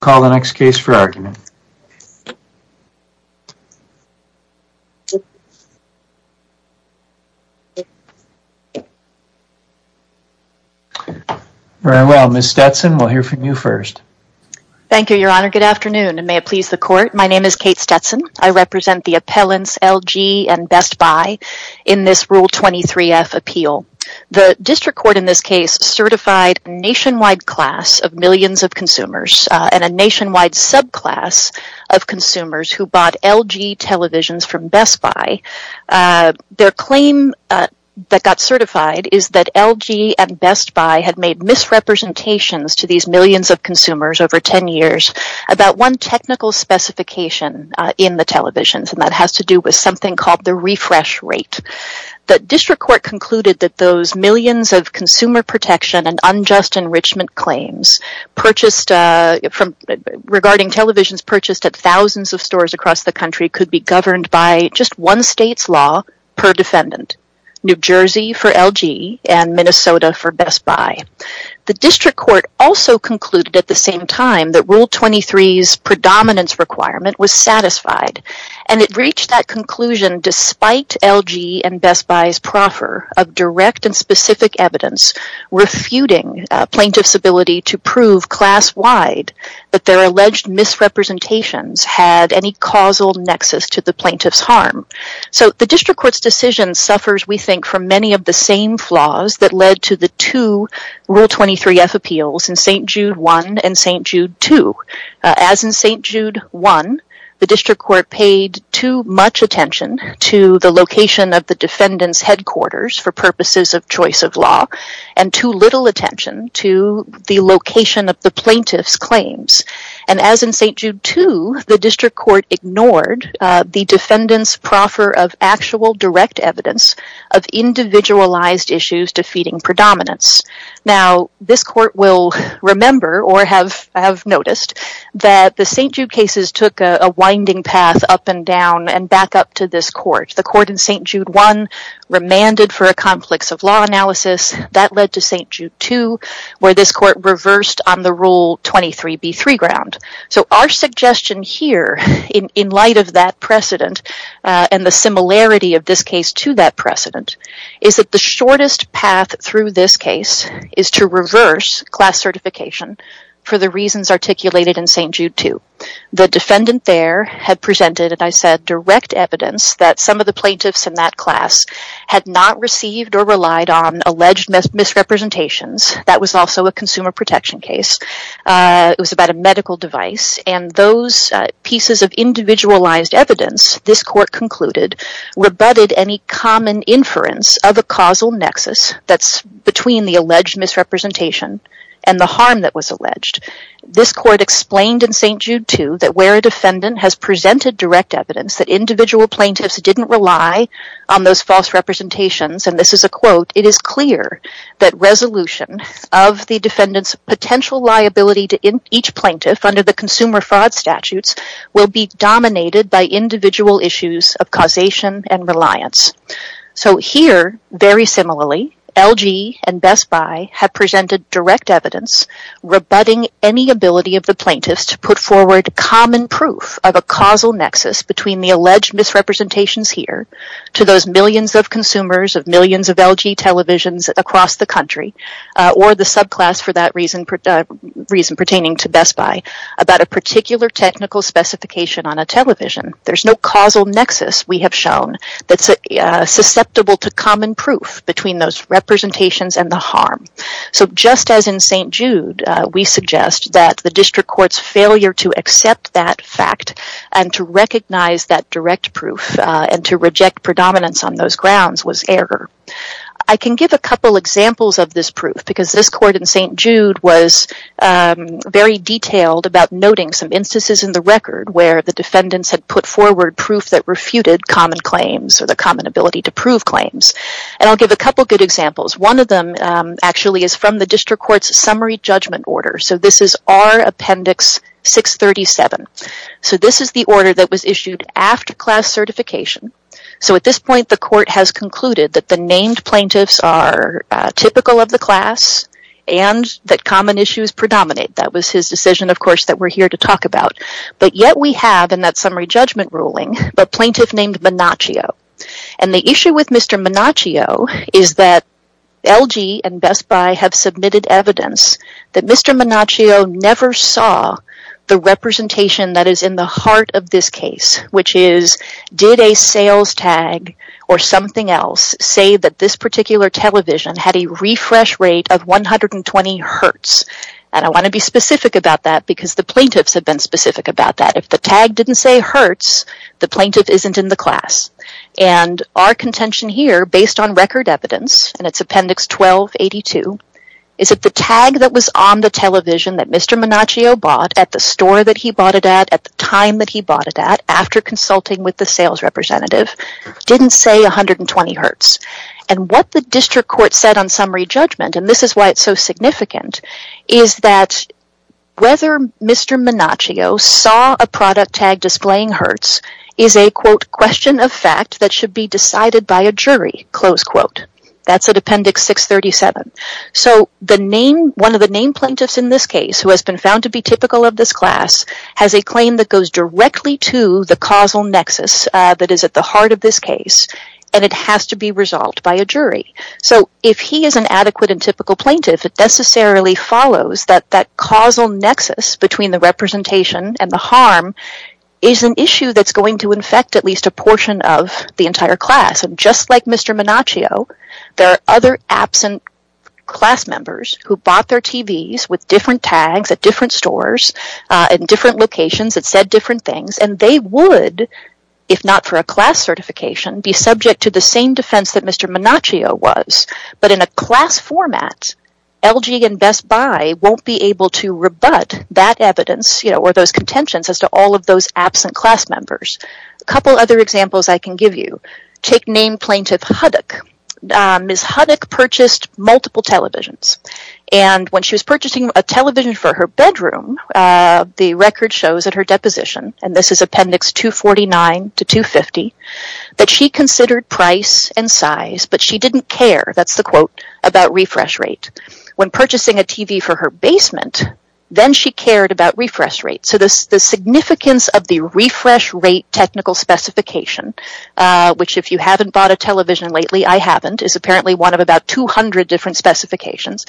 call the next case for argument. Very well, Ms. Stetson, we'll hear from you first. Thank you, Your Honor. Good afternoon, and may it please the Court, my name is Kate Stetson. I represent the appellants LG and Best Buy in this Rule 23F appeal. The District Court in this case certified a nationwide class of millions of consumers and a nationwide subclass of consumers who bought LG televisions from Best Buy. Their claim that got certified is that LG and Best Buy had made misrepresentations to these millions of consumers over ten years about one technical specification in the televisions, and that has to do with something called the refresh rate. The District Court concluded that those millions of consumer protection and unjust enrichment claims regarding televisions purchased at thousands of stores across the country could be governed by just one state's law per defendant, New Jersey for LG and Minnesota for Best Buy. The District Court also concluded at the same time that Rule 23's predominance requirement was satisfied, and it reached that conclusion despite LG and Best Buy's proffer of direct and specific evidence refuting plaintiff's ability to prove class-wide that their alleged misrepresentations had any causal nexus to the plaintiff's harm. So the District Court's decision suffers, we think, from many of the same flaws that led to the two Rule 23F appeals in St. Jude 1 and St. Jude 2. As in St. Jude 1, the District Court paid too much attention to the location of the defendant's headquarters for purposes of choice of law, and too little attention to the location of the plaintiff's claims. And as in St. Jude 2, the District Court ignored the defendant's proffer of actual direct evidence of individualized issues defeating predominance. Now, this Court will remember, or have noticed, that the St. Jude cases took a winding path up and down and back up to this Court. The Court in St. Jude 1 remanded for a conflicts-of-law analysis. That led to St. Jude 2, where this Court reversed on the Rule 23b3 ground. So our suggestion here, in light of that precedent and the similarity of this case to that precedent, is that the shortest path through this case is to reverse class certification for the reasons articulated in St. Jude 2. The defendant there had presented, and I said, direct evidence that some of the plaintiffs in that class had not received or relied on alleged misrepresentations. That was also a consumer protection case. It was about a medical device. And those pieces of individualized evidence, this Court concluded, rebutted any common inference of a causal nexus that's between the alleged misrepresentation and the harm that was alleged. This Court explained in St. Jude 2 that where a defendant has presented direct evidence that individual plaintiffs didn't rely on those false representations, and this is a quote, it is clear that resolution of the defendant's potential liability to each plaintiff under the consumer fraud statutes will be dominated by individual issues of specialization and reliance. So here, very similarly, LG and Best Buy have presented direct evidence rebutting any ability of the plaintiffs to put forward common proof of a causal nexus between the alleged misrepresentations here to those millions of consumers of millions of LG televisions across the country, or the subclass for that reason pertaining to Best Buy, about a particular technical specification on a television. There's no causal nexus we have shown that's susceptible to common proof between those representations and the harm. So just as in St. Jude, we suggest that the District Court's failure to accept that fact and to recognize that direct proof and to reject predominance on those grounds was error. I can give a couple examples of this proof because this Court in St. Jude was very detailed about noting some instances in the record where the defendants had put forward proof that refuted common claims or the common ability to prove claims. And I'll give a couple good examples. One of them actually is from the District Court's summary judgment order. So this is R Appendix 637. So this is the order that was issued after class certification. So at this point, the Court has concluded that the named plaintiffs are typical of the class and that common issues predominate. That was his decision, of course, that we're here to talk about. But yet we have, in that summary judgment ruling, a plaintiff named Menacchio. And the issue with Mr. Menacchio is that LG and Best Buy have submitted evidence that Mr. Menacchio never saw the representation that is in the heart of this case, which is did a sales tag or something else say that this particular television had a refresh rate of 120 hertz? And I want to be specific about that because the plaintiffs have been specific about that. If the tag didn't say hertz, the plaintiff isn't in the class. And our contention here, based on record evidence, and it's Appendix 1282, is that the tag that was on the television that Mr. Menacchio bought at the store that he bought it at, at the time that he bought it at, after consulting with the sales representative, didn't say 120 hertz. And what the District Court said on summary judgment, and this is why it's so significant, is that whether Mr. Menacchio saw a product tag displaying hertz is a, quote, question of fact that should be decided by a jury, close quote. That's at Appendix 637. So the name, one of the name plaintiffs in this case, who has been found to be typical of this class, has a claim that goes directly to the causal nexus that is at the heart of this case, and it has to be a jury. So if he is an adequate and typical plaintiff, it necessarily follows that that causal nexus between the representation and the harm is an issue that's going to infect at least a portion of the entire class. And just like Mr. Menacchio, there are other absent class members who bought their TVs with different tags at different stores, in different locations that said different things, and they would, if not for a class certification, be subject to the same defense that Mr. Menacchio was, but in a class format, LG and Best Buy won't be able to rebut that evidence, you know, or those contentions as to all of those absent class members. A couple other examples I can give you. Take name plaintiff Huddock. Ms. Huddock purchased multiple televisions, and when she was purchasing a television for her bedroom, the record shows at her deposition, and this is Appendix 249 to 250, that she considered price and size, but she didn't care, that's the quote, about refresh rate. When purchasing a TV for her basement, then she cared about refresh rate. So the significance of the refresh rate technical specification, which if you haven't bought a television lately, I haven't, is apparently one of about 200 different specifications.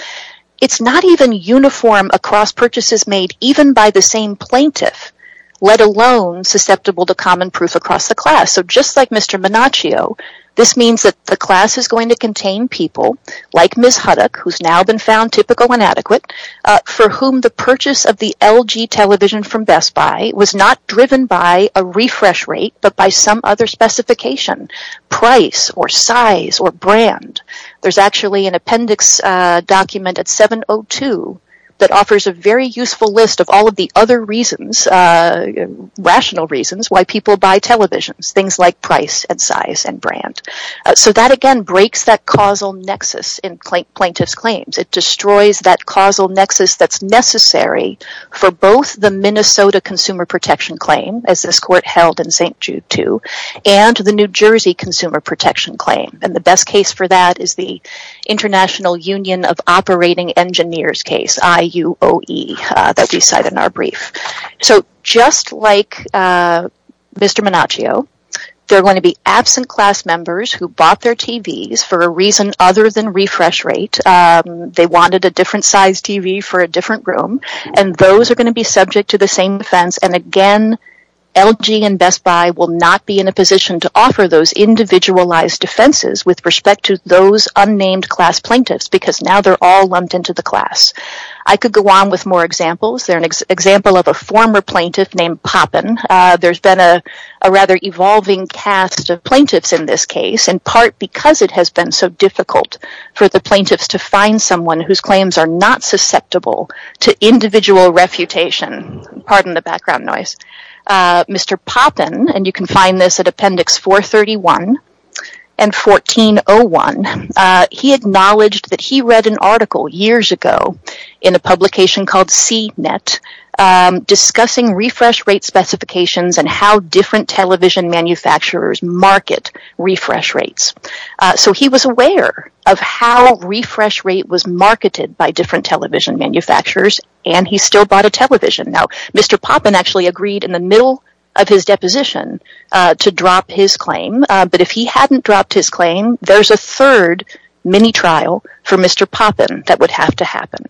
It's not even uniform across purchases made even by the same plaintiff, let alone susceptible to common proof across the class. So just like Mr. Menacchio, this means that the class is going to contain people like Ms. Huddock, who's now been found typical inadequate, for whom the purchase of the LG television from Best Buy was not driven by a refresh rate, but by some other specification, price or size or brand. There's actually an appendix document at 702 that offers a very things like price and size and brand. So that again breaks that causal nexus in plaintiff's claims. It destroys that causal nexus that's necessary for both the Minnesota Consumer Protection Claim, as this court held in St. Jude II, and the New Jersey Consumer Protection Claim, and the best case for that is the International Union of Operating Engineers case, IUOE, that Mr. Menacchio, they're going to be absent class members who bought their TVs for a reason other than refresh rate. They wanted a different size TV for a different room, and those are going to be subject to the same offense. And again, LG and Best Buy will not be in a position to offer those individualized defenses with respect to those unnamed class plaintiffs, because now they're all lumped into the class. I could go on with more examples. There's example of a former plaintiff named Poppin. There's been a rather evolving cast of plaintiffs in this case, in part because it has been so difficult for the plaintiffs to find someone whose claims are not susceptible to individual refutation. Pardon the background noise. Mr. Poppin, and you can find this at Appendix 431 and 1401, he acknowledged that he read an article years ago in a publication called CNET discussing refresh rate specifications and how different television manufacturers market refresh rates. So he was aware of how refresh rate was marketed by different television manufacturers, and he still bought a television. Now, Mr. Poppin actually agreed in the middle of his deposition to drop his claim, but if it were Mr. Poppin, that would have to happen.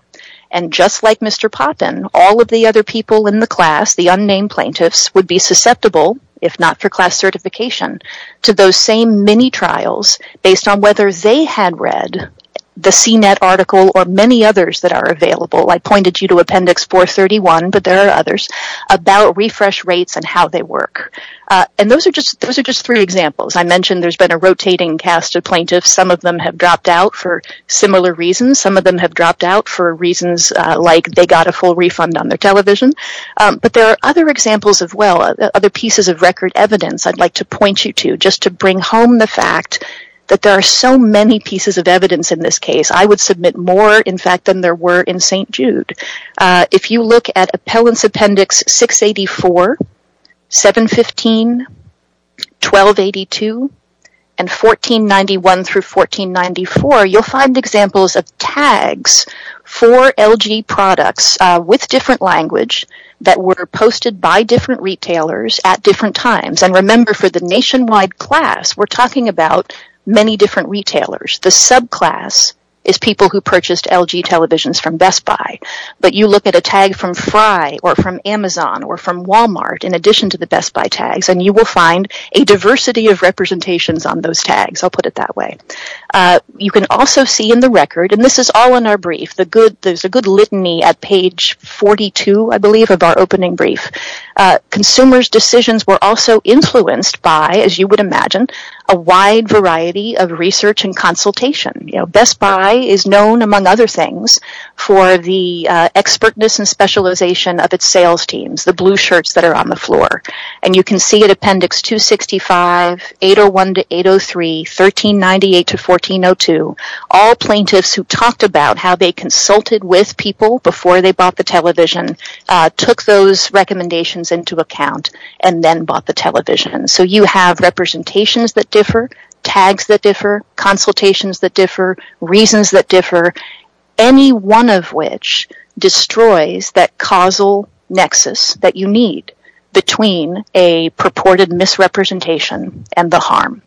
And just like Mr. Poppin, all of the other people in the class, the unnamed plaintiffs, would be susceptible, if not for class certification, to those same mini-trials based on whether they had read the CNET article or many others that are available. I pointed you to Appendix 431, but there are others, about refresh rates and how they work. And those are just three examples. I mentioned there's been a rotating cast of plaintiffs. Some of them have dropped out for similar reasons. Some of them have dropped out for reasons like they got a full refund on their television. But there are other examples as well, other pieces of record evidence I'd like to point you to, just to bring home the fact that there are so many pieces of evidence in this case. I would submit more, in fact, than there were in St. Jude. If you look at Appellants Appendix 684, 715, 1282, and 1491 through 1494, you'll find examples of tags for LG products with different language that were posted by different retailers at different times. And remember, for the nationwide class, we're talking about many different retailers. The subclass is people who purchased LG televisions from Best Buy. But you look at a tag from Frye or from Amazon or from other retailers, you will find a diversity of representations on those tags. I'll put it that way. You can also see in the record, and this is all in our brief, there's a good litany at page 42, I believe, of our opening brief. Consumers' decisions were also influenced by, as you would imagine, a wide variety of research and consultation. Best Buy is known, among other things, for the expertness and specialization of its sales teams, the blue appendix, 265, 801 to 803, 1398 to 1402. All plaintiffs who talked about how they consulted with people before they bought the television took those recommendations into account and then bought the television. So you have representations that differ, tags that differ, consultations that differ, reasons that differ, any one of which destroys that purported misrepresentation and the harm.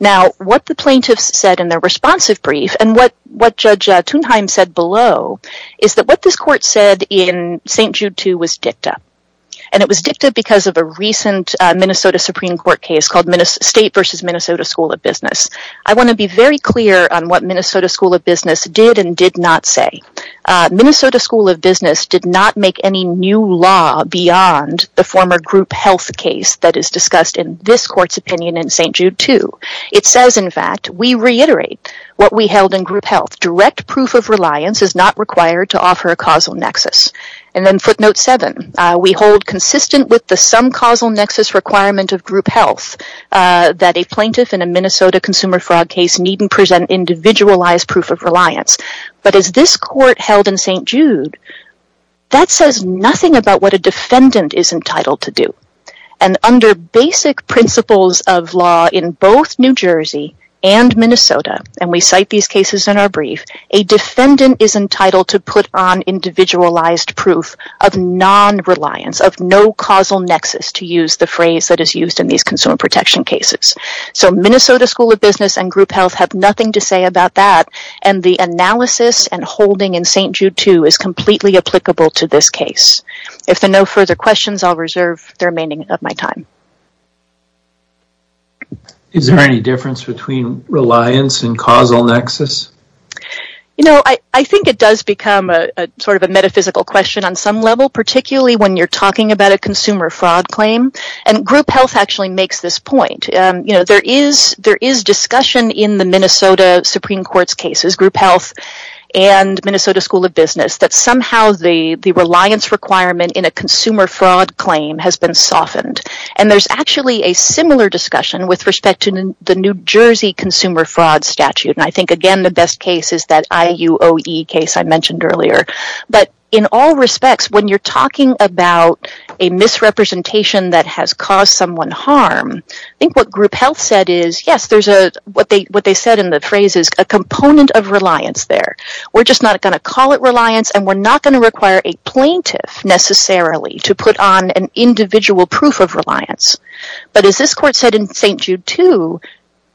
Now, what the plaintiffs said in their responsive brief and what Judge Thunheim said below is that what this court said in St. Jude II was dicta. And it was dicta because of a recent Minnesota Supreme Court case called State v. Minnesota School of Business. I want to be very clear on what Minnesota School of Business did and did not say. Minnesota School of Business did not make any new law beyond the former group health case that is discussed in this court's opinion in St. Jude II. It says, in fact, we reiterate what we held in group health. Direct proof of reliance is not required to offer a causal nexus. And then footnote 7, we hold consistent with the some causal nexus requirement of group health that a plaintiff in a Minnesota consumer fraud case needn't present individualized proof of reliance. But as this court held in St. Jude II, that says nothing about what a defendant is entitled to do. And under basic principles of law in both New Jersey and Minnesota, and we cite these cases in our brief, a defendant is entitled to put on individualized proof of non-reliance, of no causal nexus, to use the phrase that is used in these consumer protection cases. So Minnesota School of Business and group health have nothing to say about that. And the analysis and holding in St. Jude II is completely applicable to this case. If there are no further questions, I'll reserve the remaining of my time. Is there any difference between reliance and causal nexus? You know, I think it does become a sort of a metaphysical question on some level, particularly when you're talking about a consumer fraud claim. And group health actually makes this point. You know, there is discussion in the business that somehow the reliance requirement in a consumer fraud claim has been softened. And there's actually a similar discussion with respect to the New Jersey consumer fraud statute. And I think, again, the best case is that IUOE case I mentioned earlier. But in all respects, when you're talking about a misrepresentation that has caused someone harm, I think what group health said is, yes, there's a, what they said in the phrase is a component of reliance there. We're just not going to call it reliance, and we're not going to require a plaintiff necessarily to put on an individual proof of reliance. But as this court said in St. Jude II,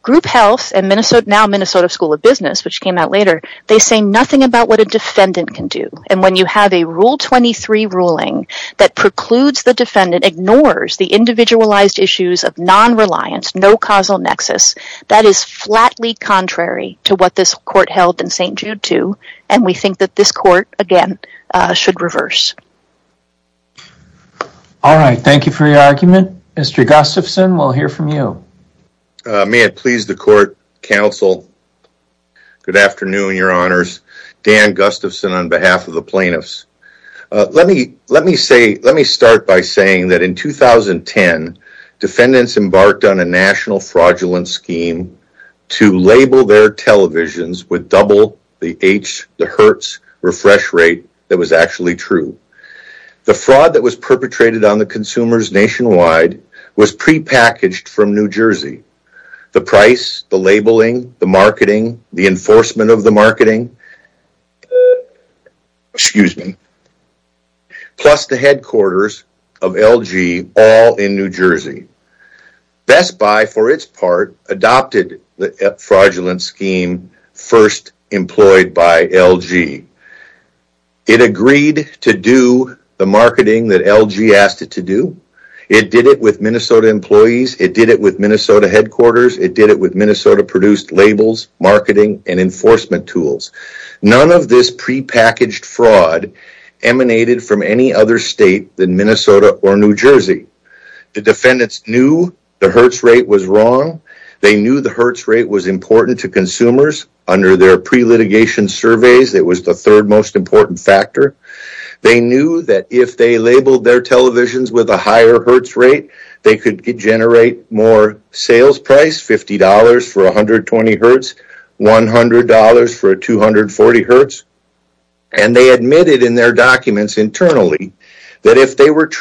group health and now Minnesota School of Business, which came out later, they say nothing about what a defendant can do. And when you have a Rule 23 ruling that precludes the defendant, ignores the individualized issues of non-reliance, no causal nexus, that is flatly contrary to what this court held in St. Jude II. And we think that this court, again, should reverse. All right. Thank you for your argument. Mr. Gustafson, we'll hear from you. May it please the court, counsel. Good afternoon, your honors. Dan Gustafson on behalf of the plaintiffs. Let me start by saying that in 2010, defendants embarked on a national fraudulent scheme to label their televisions with double the H, the Hertz, refresh rate that was actually true. The fraud that was perpetrated on the consumers nationwide was prepackaged from New Jersey. The price, the labeling, the marketing, the enforcement of the marketing, excuse me, plus the headquarters of LG, all in New Jersey. Best Buy, for its part, adopted the fraudulent scheme first employed by LG. It agreed to do the marketing that LG asked it to do. It did it with Minnesota employees. It did it with Minnesota headquarters. It did it with Minnesota-produced labels, marketing, and enforcement tools. None of this prepackaged fraud emanated from any other state than Minnesota or New Jersey. The defendants knew the Hertz rate was wrong. They knew the Hertz rate was important to consumers. Under their pre-litigation surveys, it was the third most important factor. They knew that if they labeled their televisions with a higher Hertz rate, they could generate more sales price, $50 for 120 Hertz, $100 for 240 Hertz, and they admitted in their report, which was very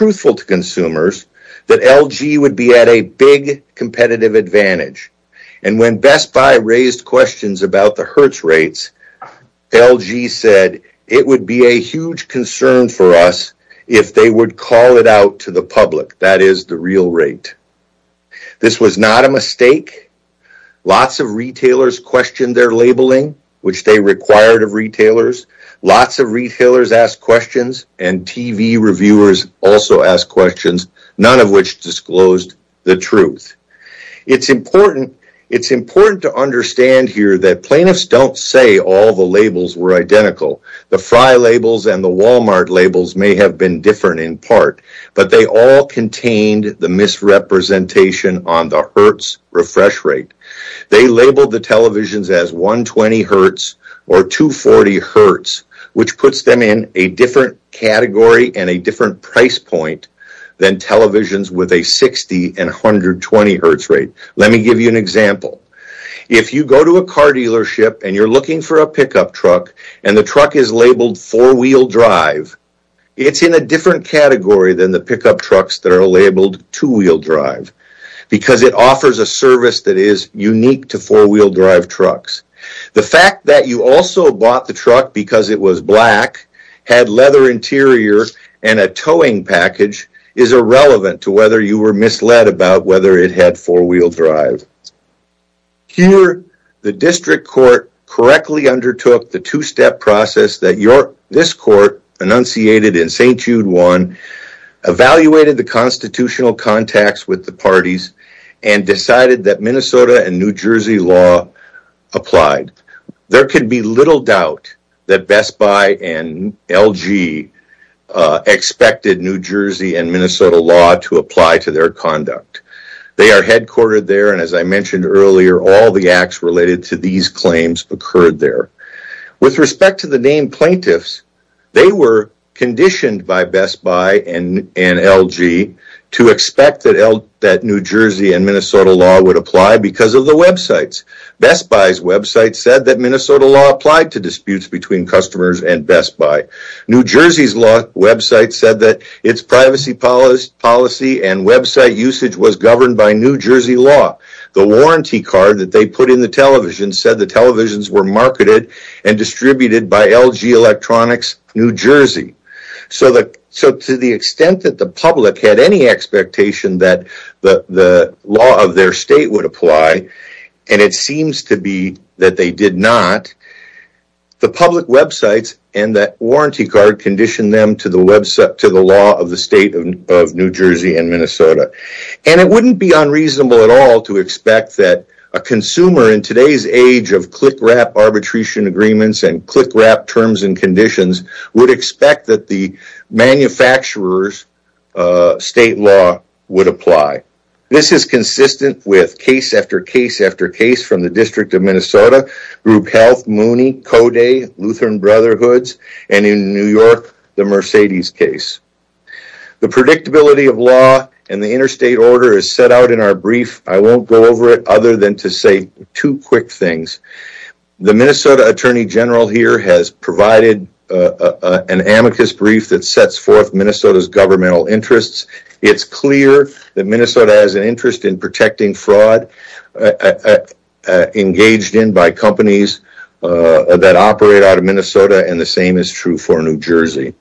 useful to consumers, that LG would be at a big competitive advantage. And when Best Buy raised questions about the Hertz rates, LG said, it would be a huge concern for us if they would call it out to the public, that is, the real rate. This was not a mistake. Lots of retailers questioned their labeling, which they required of retailers. Lots of retailers asked questions, none of which disclosed the truth. It's important to understand here that plaintiffs don't say all the labels were identical. The Frye labels and the Walmart labels may have been different in part, but they all contained the misrepresentation on the Hertz refresh rate. They labeled the televisions as 120 Hertz or 240 Hertz, which puts them in a different category and a different price point than televisions with a 60 and 120 Hertz rate. Let me give you an example. If you go to a car dealership and you're looking for a pickup truck and the truck is labeled four-wheel drive, it's in a different category than the pickup trucks that are labeled two-wheel drive because it offers a service that is unique to four-wheel drive trucks. The fact that you also bought the truck because it was black, had leather interior, and a towing package is irrelevant to whether you were misled about whether it had four-wheel drive. Here, the district court correctly undertook the two-step process that this court enunciated in St. Jude 1, evaluated the constitutional contacts with the parties, and decided that Minnesota and New Jersey law applied. There can be little doubt that Best Buy and LG expected New Jersey and Minnesota law to apply to their conduct. They are headquartered there, and as I mentioned earlier, all the acts related to these claims occurred there. With respect to the named plaintiffs, they were conditioned by Best Buy that New Jersey and Minnesota law would apply because of the websites. Best Buy's website said that Minnesota law applied to disputes between customers and Best Buy. New Jersey's website said that its privacy policy and website usage was governed by New Jersey law. The warranty card that they put in the television said the televisions were marketed and distributed by LG Electronics, New Jersey. To the extent that the public had any expectation that the law of their state would apply, and it seems to be that they did not, the public websites and that warranty card conditioned them to the law of the state of New Jersey and Minnesota. It wouldn't be unreasonable at all to expect that a consumer in today's age of click-wrap arbitration agreements and click-wrap terms and conditions would expect that the manufacturer's state law would apply. This is consistent with case after case after case from the District of Minnesota, Group Health, Mooney, Code, Lutheran Brotherhoods, and in New York, the Mercedes case. The predictability of law and the interstate order is set out in our brief. I won't go over it other than to say two quick things. The Minnesota Attorney General here has provided an amicus brief that sets forth Minnesota's governmental interests. It's clear that Minnesota has an interest in protecting fraud engaged in by companies that operate out of Minnesota, and the same is true for New Jersey.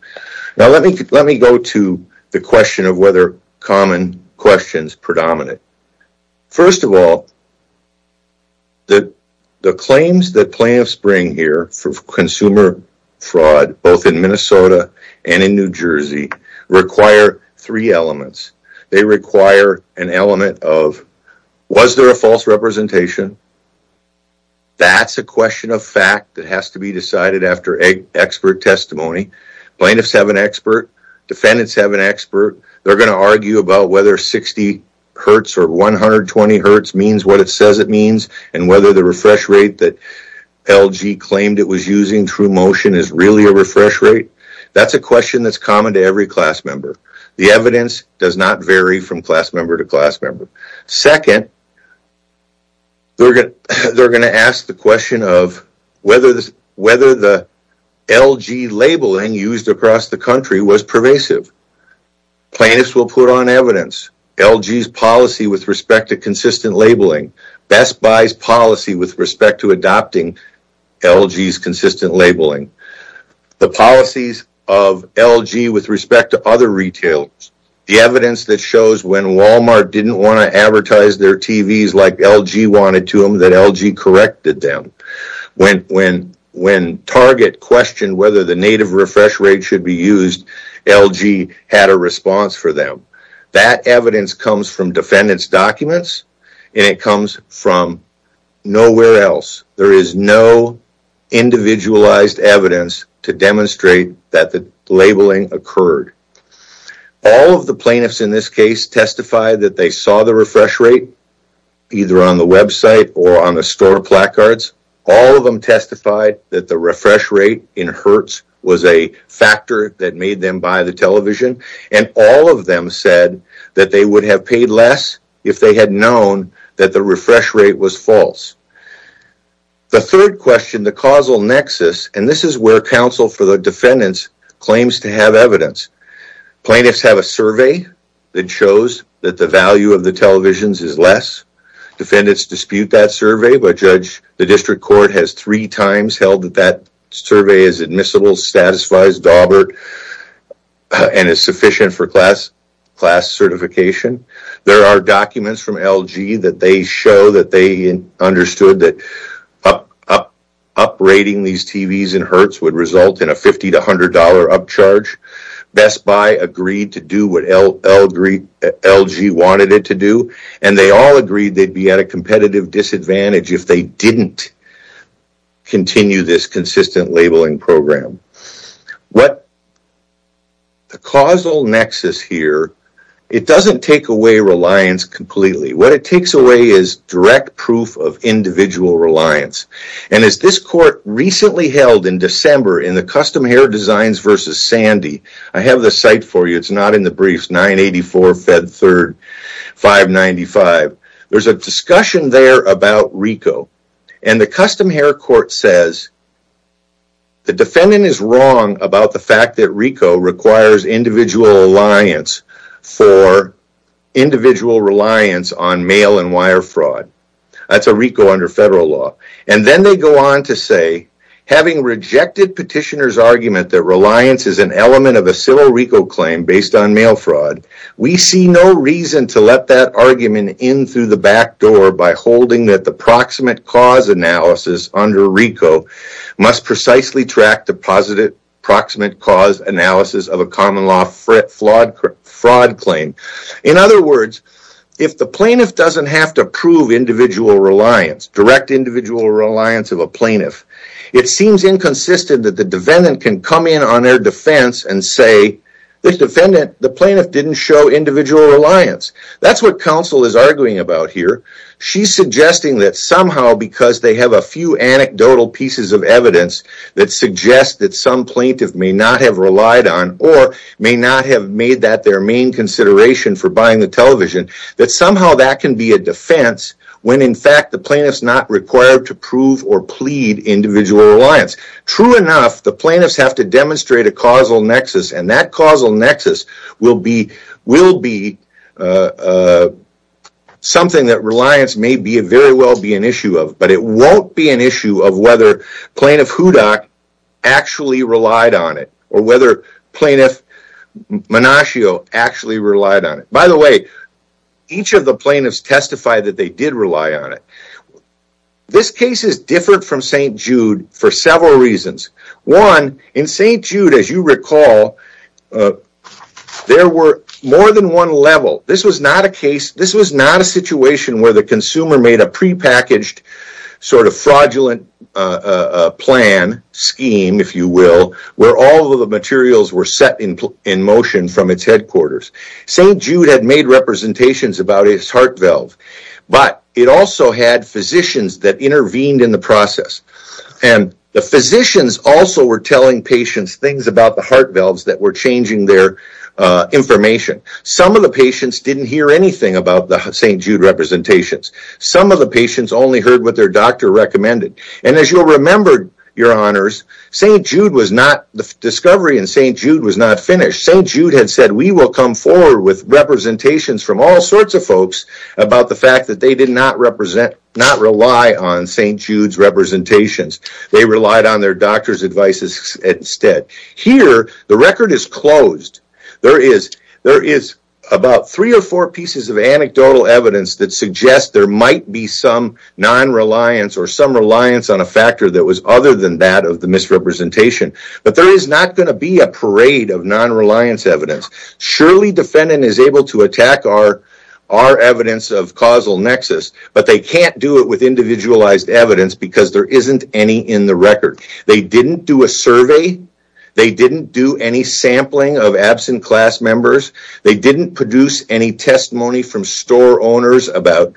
Let me go to the question of whether common question is predominant. First of all, the claims that plaintiffs bring here for consumer fraud, both in Minnesota and in New Jersey, require three elements. They require an element of, was there a false representation? That's a question of fact that has to be decided after expert testimony. Plaintiffs have an expert. Defendants have an expert. They're going to argue about whether 60 hertz or 120 hertz means what it says it means, and whether the refresh rate that LG claimed it was using through motion is really a refresh rate. That's a question that's common to every class member. The evidence does not vary from class member to class member. Second, they're going to ask the question of whether the LG labeling used across the country is consistent. Best Buy's policy with respect to adopting LG's consistent labeling, the policies of LG with respect to other retailers, the evidence that shows when Walmart didn't want to advertise their TVs like LG wanted to them, that LG corrected them. When Target questioned whether the native refresh rate should be used, LG had a response for them. That evidence comes from defendant's documents, and it comes from nowhere else. There is no individualized evidence to demonstrate that the labeling occurred. All of the plaintiffs in this case testified that they saw the refresh rate, either on the website or on the store placards. All of them testified that the refresh rate in hertz was a factor that made them buy the television, and all of them said that they would have paid less if they had known that the refresh rate was false. The third question, the causal nexus, and this is where counsel for the defendants claims to have evidence. Plaintiffs have a survey that shows that the value of the televisions is less. Defendants dispute that survey, but the district court has three times held that that survey is admissible, satisfies Daubert, and is sufficient for class certification. There are documents from LG that they show that they understood that uprating these TVs in hertz would result in a $50 to $100 upcharge. Best Buy agreed to do what LG wanted it to do, and they all agreed they'd be at a competitive disadvantage if they didn't continue this consistent labeling program. The causal nexus here, it doesn't take away reliance completely. What it takes away is direct proof of individual reliance. As this court recently held in December in the custom hair designs versus Sandy, I have the site for you, it's not in the briefs, 984 Fed 3rd 595. There's a discussion there about RICO, and the custom hair court says the defendant is wrong about the fact that RICO requires individual reliance on mail and wire fraud. That's a RICO under federal law. Then they go on to say, having rejected petitioners argument that reliance is an element of a civil RICO claim based on mail fraud, we see no reason to let that argument in through the back door by holding that the proximate cause analysis under RICO must precisely track the proximate cause analysis of a common law fraud claim. In other words, if the plaintiff doesn't have to prove individual reliance, direct individual reliance of a plaintiff, it seems inconsistent that the defendant can That's what counsel is arguing about here. She's suggesting that somehow because they have a few anecdotal pieces of evidence that suggest that some plaintiff may not have relied on or may not have made that their main consideration for buying the television, that somehow that can be a defense when in fact the plaintiff's not required to prove or plead individual reliance. True enough, the plaintiffs have to demonstrate a causal nexus, and that causal nexus is something that reliance may very well be an issue of, but it won't be an issue of whether Plaintiff Hudak actually relied on it or whether Plaintiff Menascio actually relied on it. By the way, each of the plaintiffs testified that they did rely on it. This case is different from St. Jude for several reasons. One, in St. Jude, as you recall, there were more than one level. This was not a case, this was not a situation where the consumer made a prepackaged sort of fraudulent plan, scheme, if you will, where all of the materials were set in motion from its headquarters. St. Jude had made representations about its heart valve, but it also had physicians that intervened in the process, and the physicians also were telling patients things about the heart valves that were changing their information. Some of the patients didn't hear anything about the St. Jude representations. Some of the patients only heard what their doctor recommended, and as you'll remember, your honors, St. Jude was not, the discovery in St. Jude was not finished. St. Jude had said, we will come forward with representations from all sorts of folks about the fact that they did not represent, not rely on St. Jude's representations. They relied on their doctor's advices instead. Here, the record is closed. There is about three or four pieces of anecdotal evidence that suggests there might be some non-reliance or some reliance on a factor that was other than that of the misrepresentation, but there is not going to be a parade of non-reliance evidence. Surely, defendant is able to attack our evidence of causal nexus, but they can't do it with individualized evidence because there isn't any in the record. They didn't do a survey. They didn't do any sampling of absent class members. They didn't produce any testimony from store owners about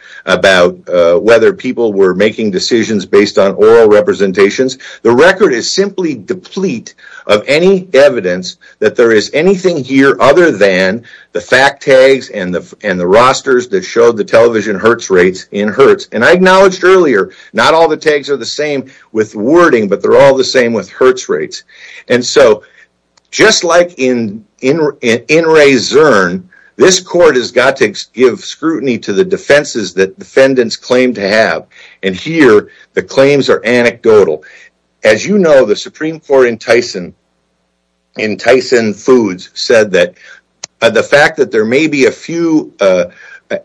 whether people were making decisions based on oral representations. The record is simply deplete of any evidence that there is anything here other than the fact tags and the rosters that showed the television hertz rates in hertz. I acknowledged earlier, not all the tags are the same with wording, but they're all the same with hertz rates. Just like in Ray Zurn, this court has got to give scrutiny to the evidence. As you know, the Supreme Court in Tyson Foods said that the fact that there may be a few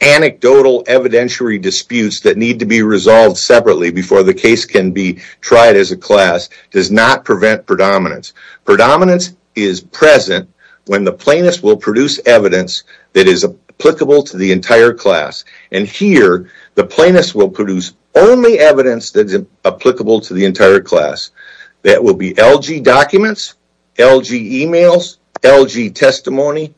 anecdotal evidentiary disputes that need to be resolved separately before the case can be tried as a class does not prevent predominance. Predominance is present when the plaintiff will produce evidence that is applicable to the entire class. Here, the entire class. That will be LG documents, LG emails, LG testimony,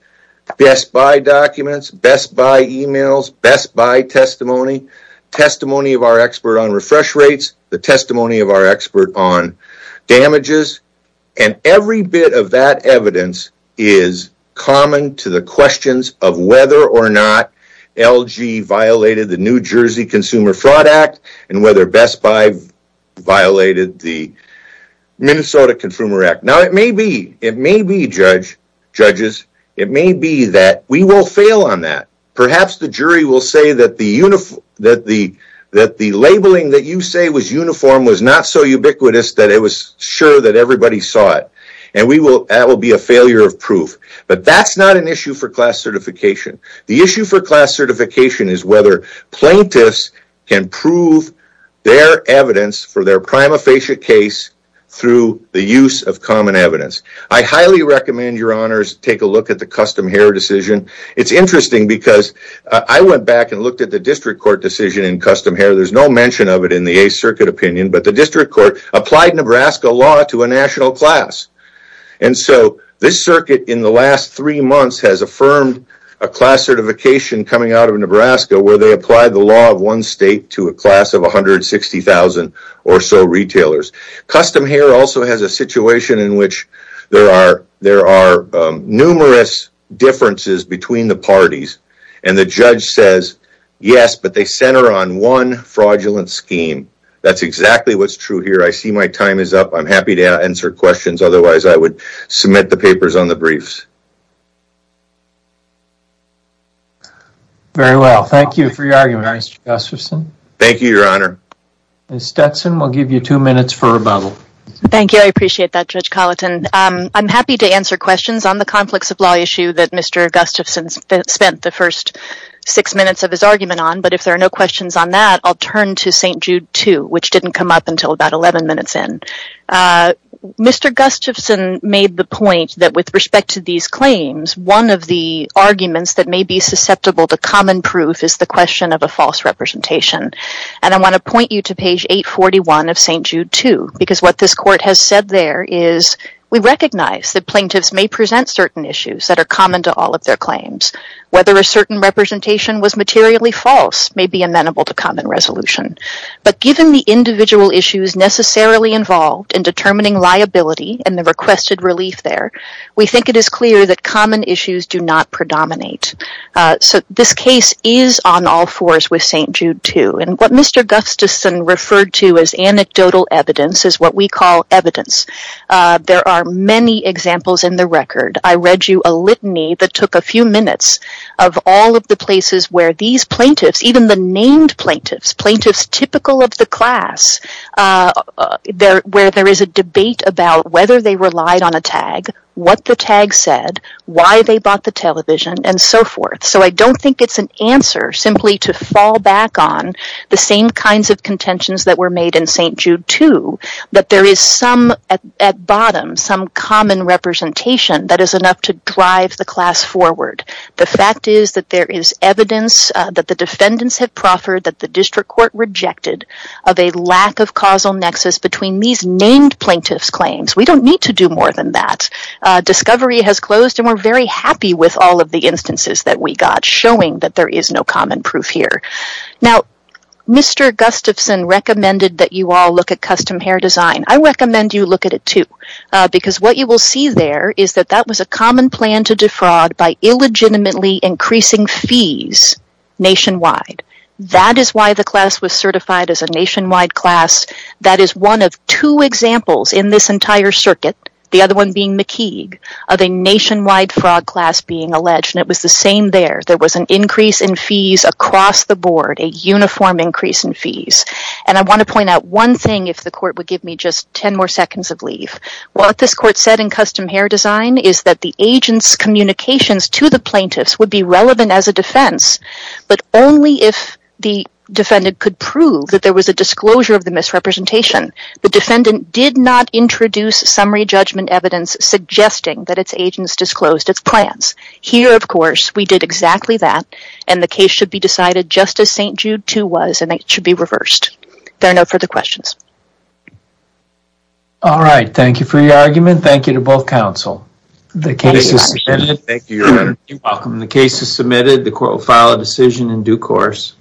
Best Buy documents, Best Buy emails, Best Buy testimony, testimony of our expert on refresh rates, the testimony of our expert on damages, and every bit of that evidence is common to the questions of whether or not LG violated the New Jersey Consumer Fraud Act and whether Best Buy violated the Minnesota Consumer Act. It may be, judges, it may be that we will fail on that. Perhaps the jury will say that the labeling that you say was uniform was not so ubiquitous that it was sure that everybody saw it. That will be a failure of proof. That's not an issue for class certification. The issue for class certification is whether plaintiffs can prove their evidence for their prima facie case through the use of common evidence. I highly recommend, your honors, take a look at the Custom Hair decision. It's interesting because I went back and looked at the District Court decision in Custom Hair. There's no mention of it in the 8th Circuit opinion, but the District Court applied Nebraska law to a national class. This circuit, in the last three months, has affirmed a class certification coming out of Nebraska where they applied the law of one state to a class of 160,000 or so retailers. Custom Hair also has a situation in which there are numerous differences between the parties, and the judge says, yes, but they center on one fraudulent scheme. That's exactly what's true here. I see my time is up. I'm happy to answer questions. Otherwise, I would submit the papers on the briefs. Very well. Thank you for your argument, Mr. Gustafson. Thank you, your honor. Ms. Stetson, we'll give you two minutes for rebuttal. Thank you. I appreciate that, Judge Colleton. I'm happy to answer questions on the conflicts of law issue that Mr. Gustafson spent the first six minutes of his argument on, but if there are no questions on that, I'll turn to St. Jude 2, which didn't come up until about 11 minutes in. Mr. Gustafson made the point that with respect to these claims, one of the arguments that may be susceptible to common proof is the question of a false representation, and I want to point you to page 841 of St. Jude 2, because what this court has said there is, we recognize that plaintiffs may present certain issues that are common to all of their claims. Whether a certain representation was materially false may be amenable to common resolution, but given the individual issues necessarily involved in determining liability and the requested relief there, we think it is clear that common issues do not predominate. So this case is on all fours with St. Jude 2, and what Mr. Gustafson referred to as anecdotal evidence is what we call evidence. There are many examples in the record. I read you a litany that is typical of the class, where there is a debate about whether they relied on a tag, what the tag said, why they bought the television, and so forth. So I don't think it's an answer simply to fall back on the same kinds of contentions that were made in St. Jude 2, that there is some at bottom, some common representation that is enough to drive the class forward. The fact is that there is evidence that the defendants have proffered, that the district court rejected, of a lack of causal nexus between these named plaintiff's claims. We don't need to do more than that. Discovery has closed, and we're very happy with all of the instances that we got, showing that there is no common proof here. Now, Mr. Gustafson recommended that you all look at custom hair design. I recommend you look at it, too, because what you will see there is that that was a common plan to defraud by illegitimately increasing fees nationwide. That is why the class was certified as a nationwide class. That is one of two examples in this entire circuit, the other one being McKeague, of a nationwide fraud class being alleged. And it was the same there. There was an increase in fees across the board, a uniform increase in fees. And I want to point out one thing, if the court would give me just 10 more seconds of leave. What this court said in custom hair design is that the agent's communications to the plaintiffs would be relevant as a defense, but only if the defendant could prove that there was a disclosure of the misrepresentation. The defendant did not introduce summary judgment evidence suggesting that its agents disclosed its plans. Here, of course, we did exactly that, and the case should be decided just as St. Jude II was, and it should be reversed. There are no further questions. All right. Thank you for your argument. Thank you to both counsel. The case is submitted. Thank you. You're welcome. The case is submitted. The court will file a decision in due course.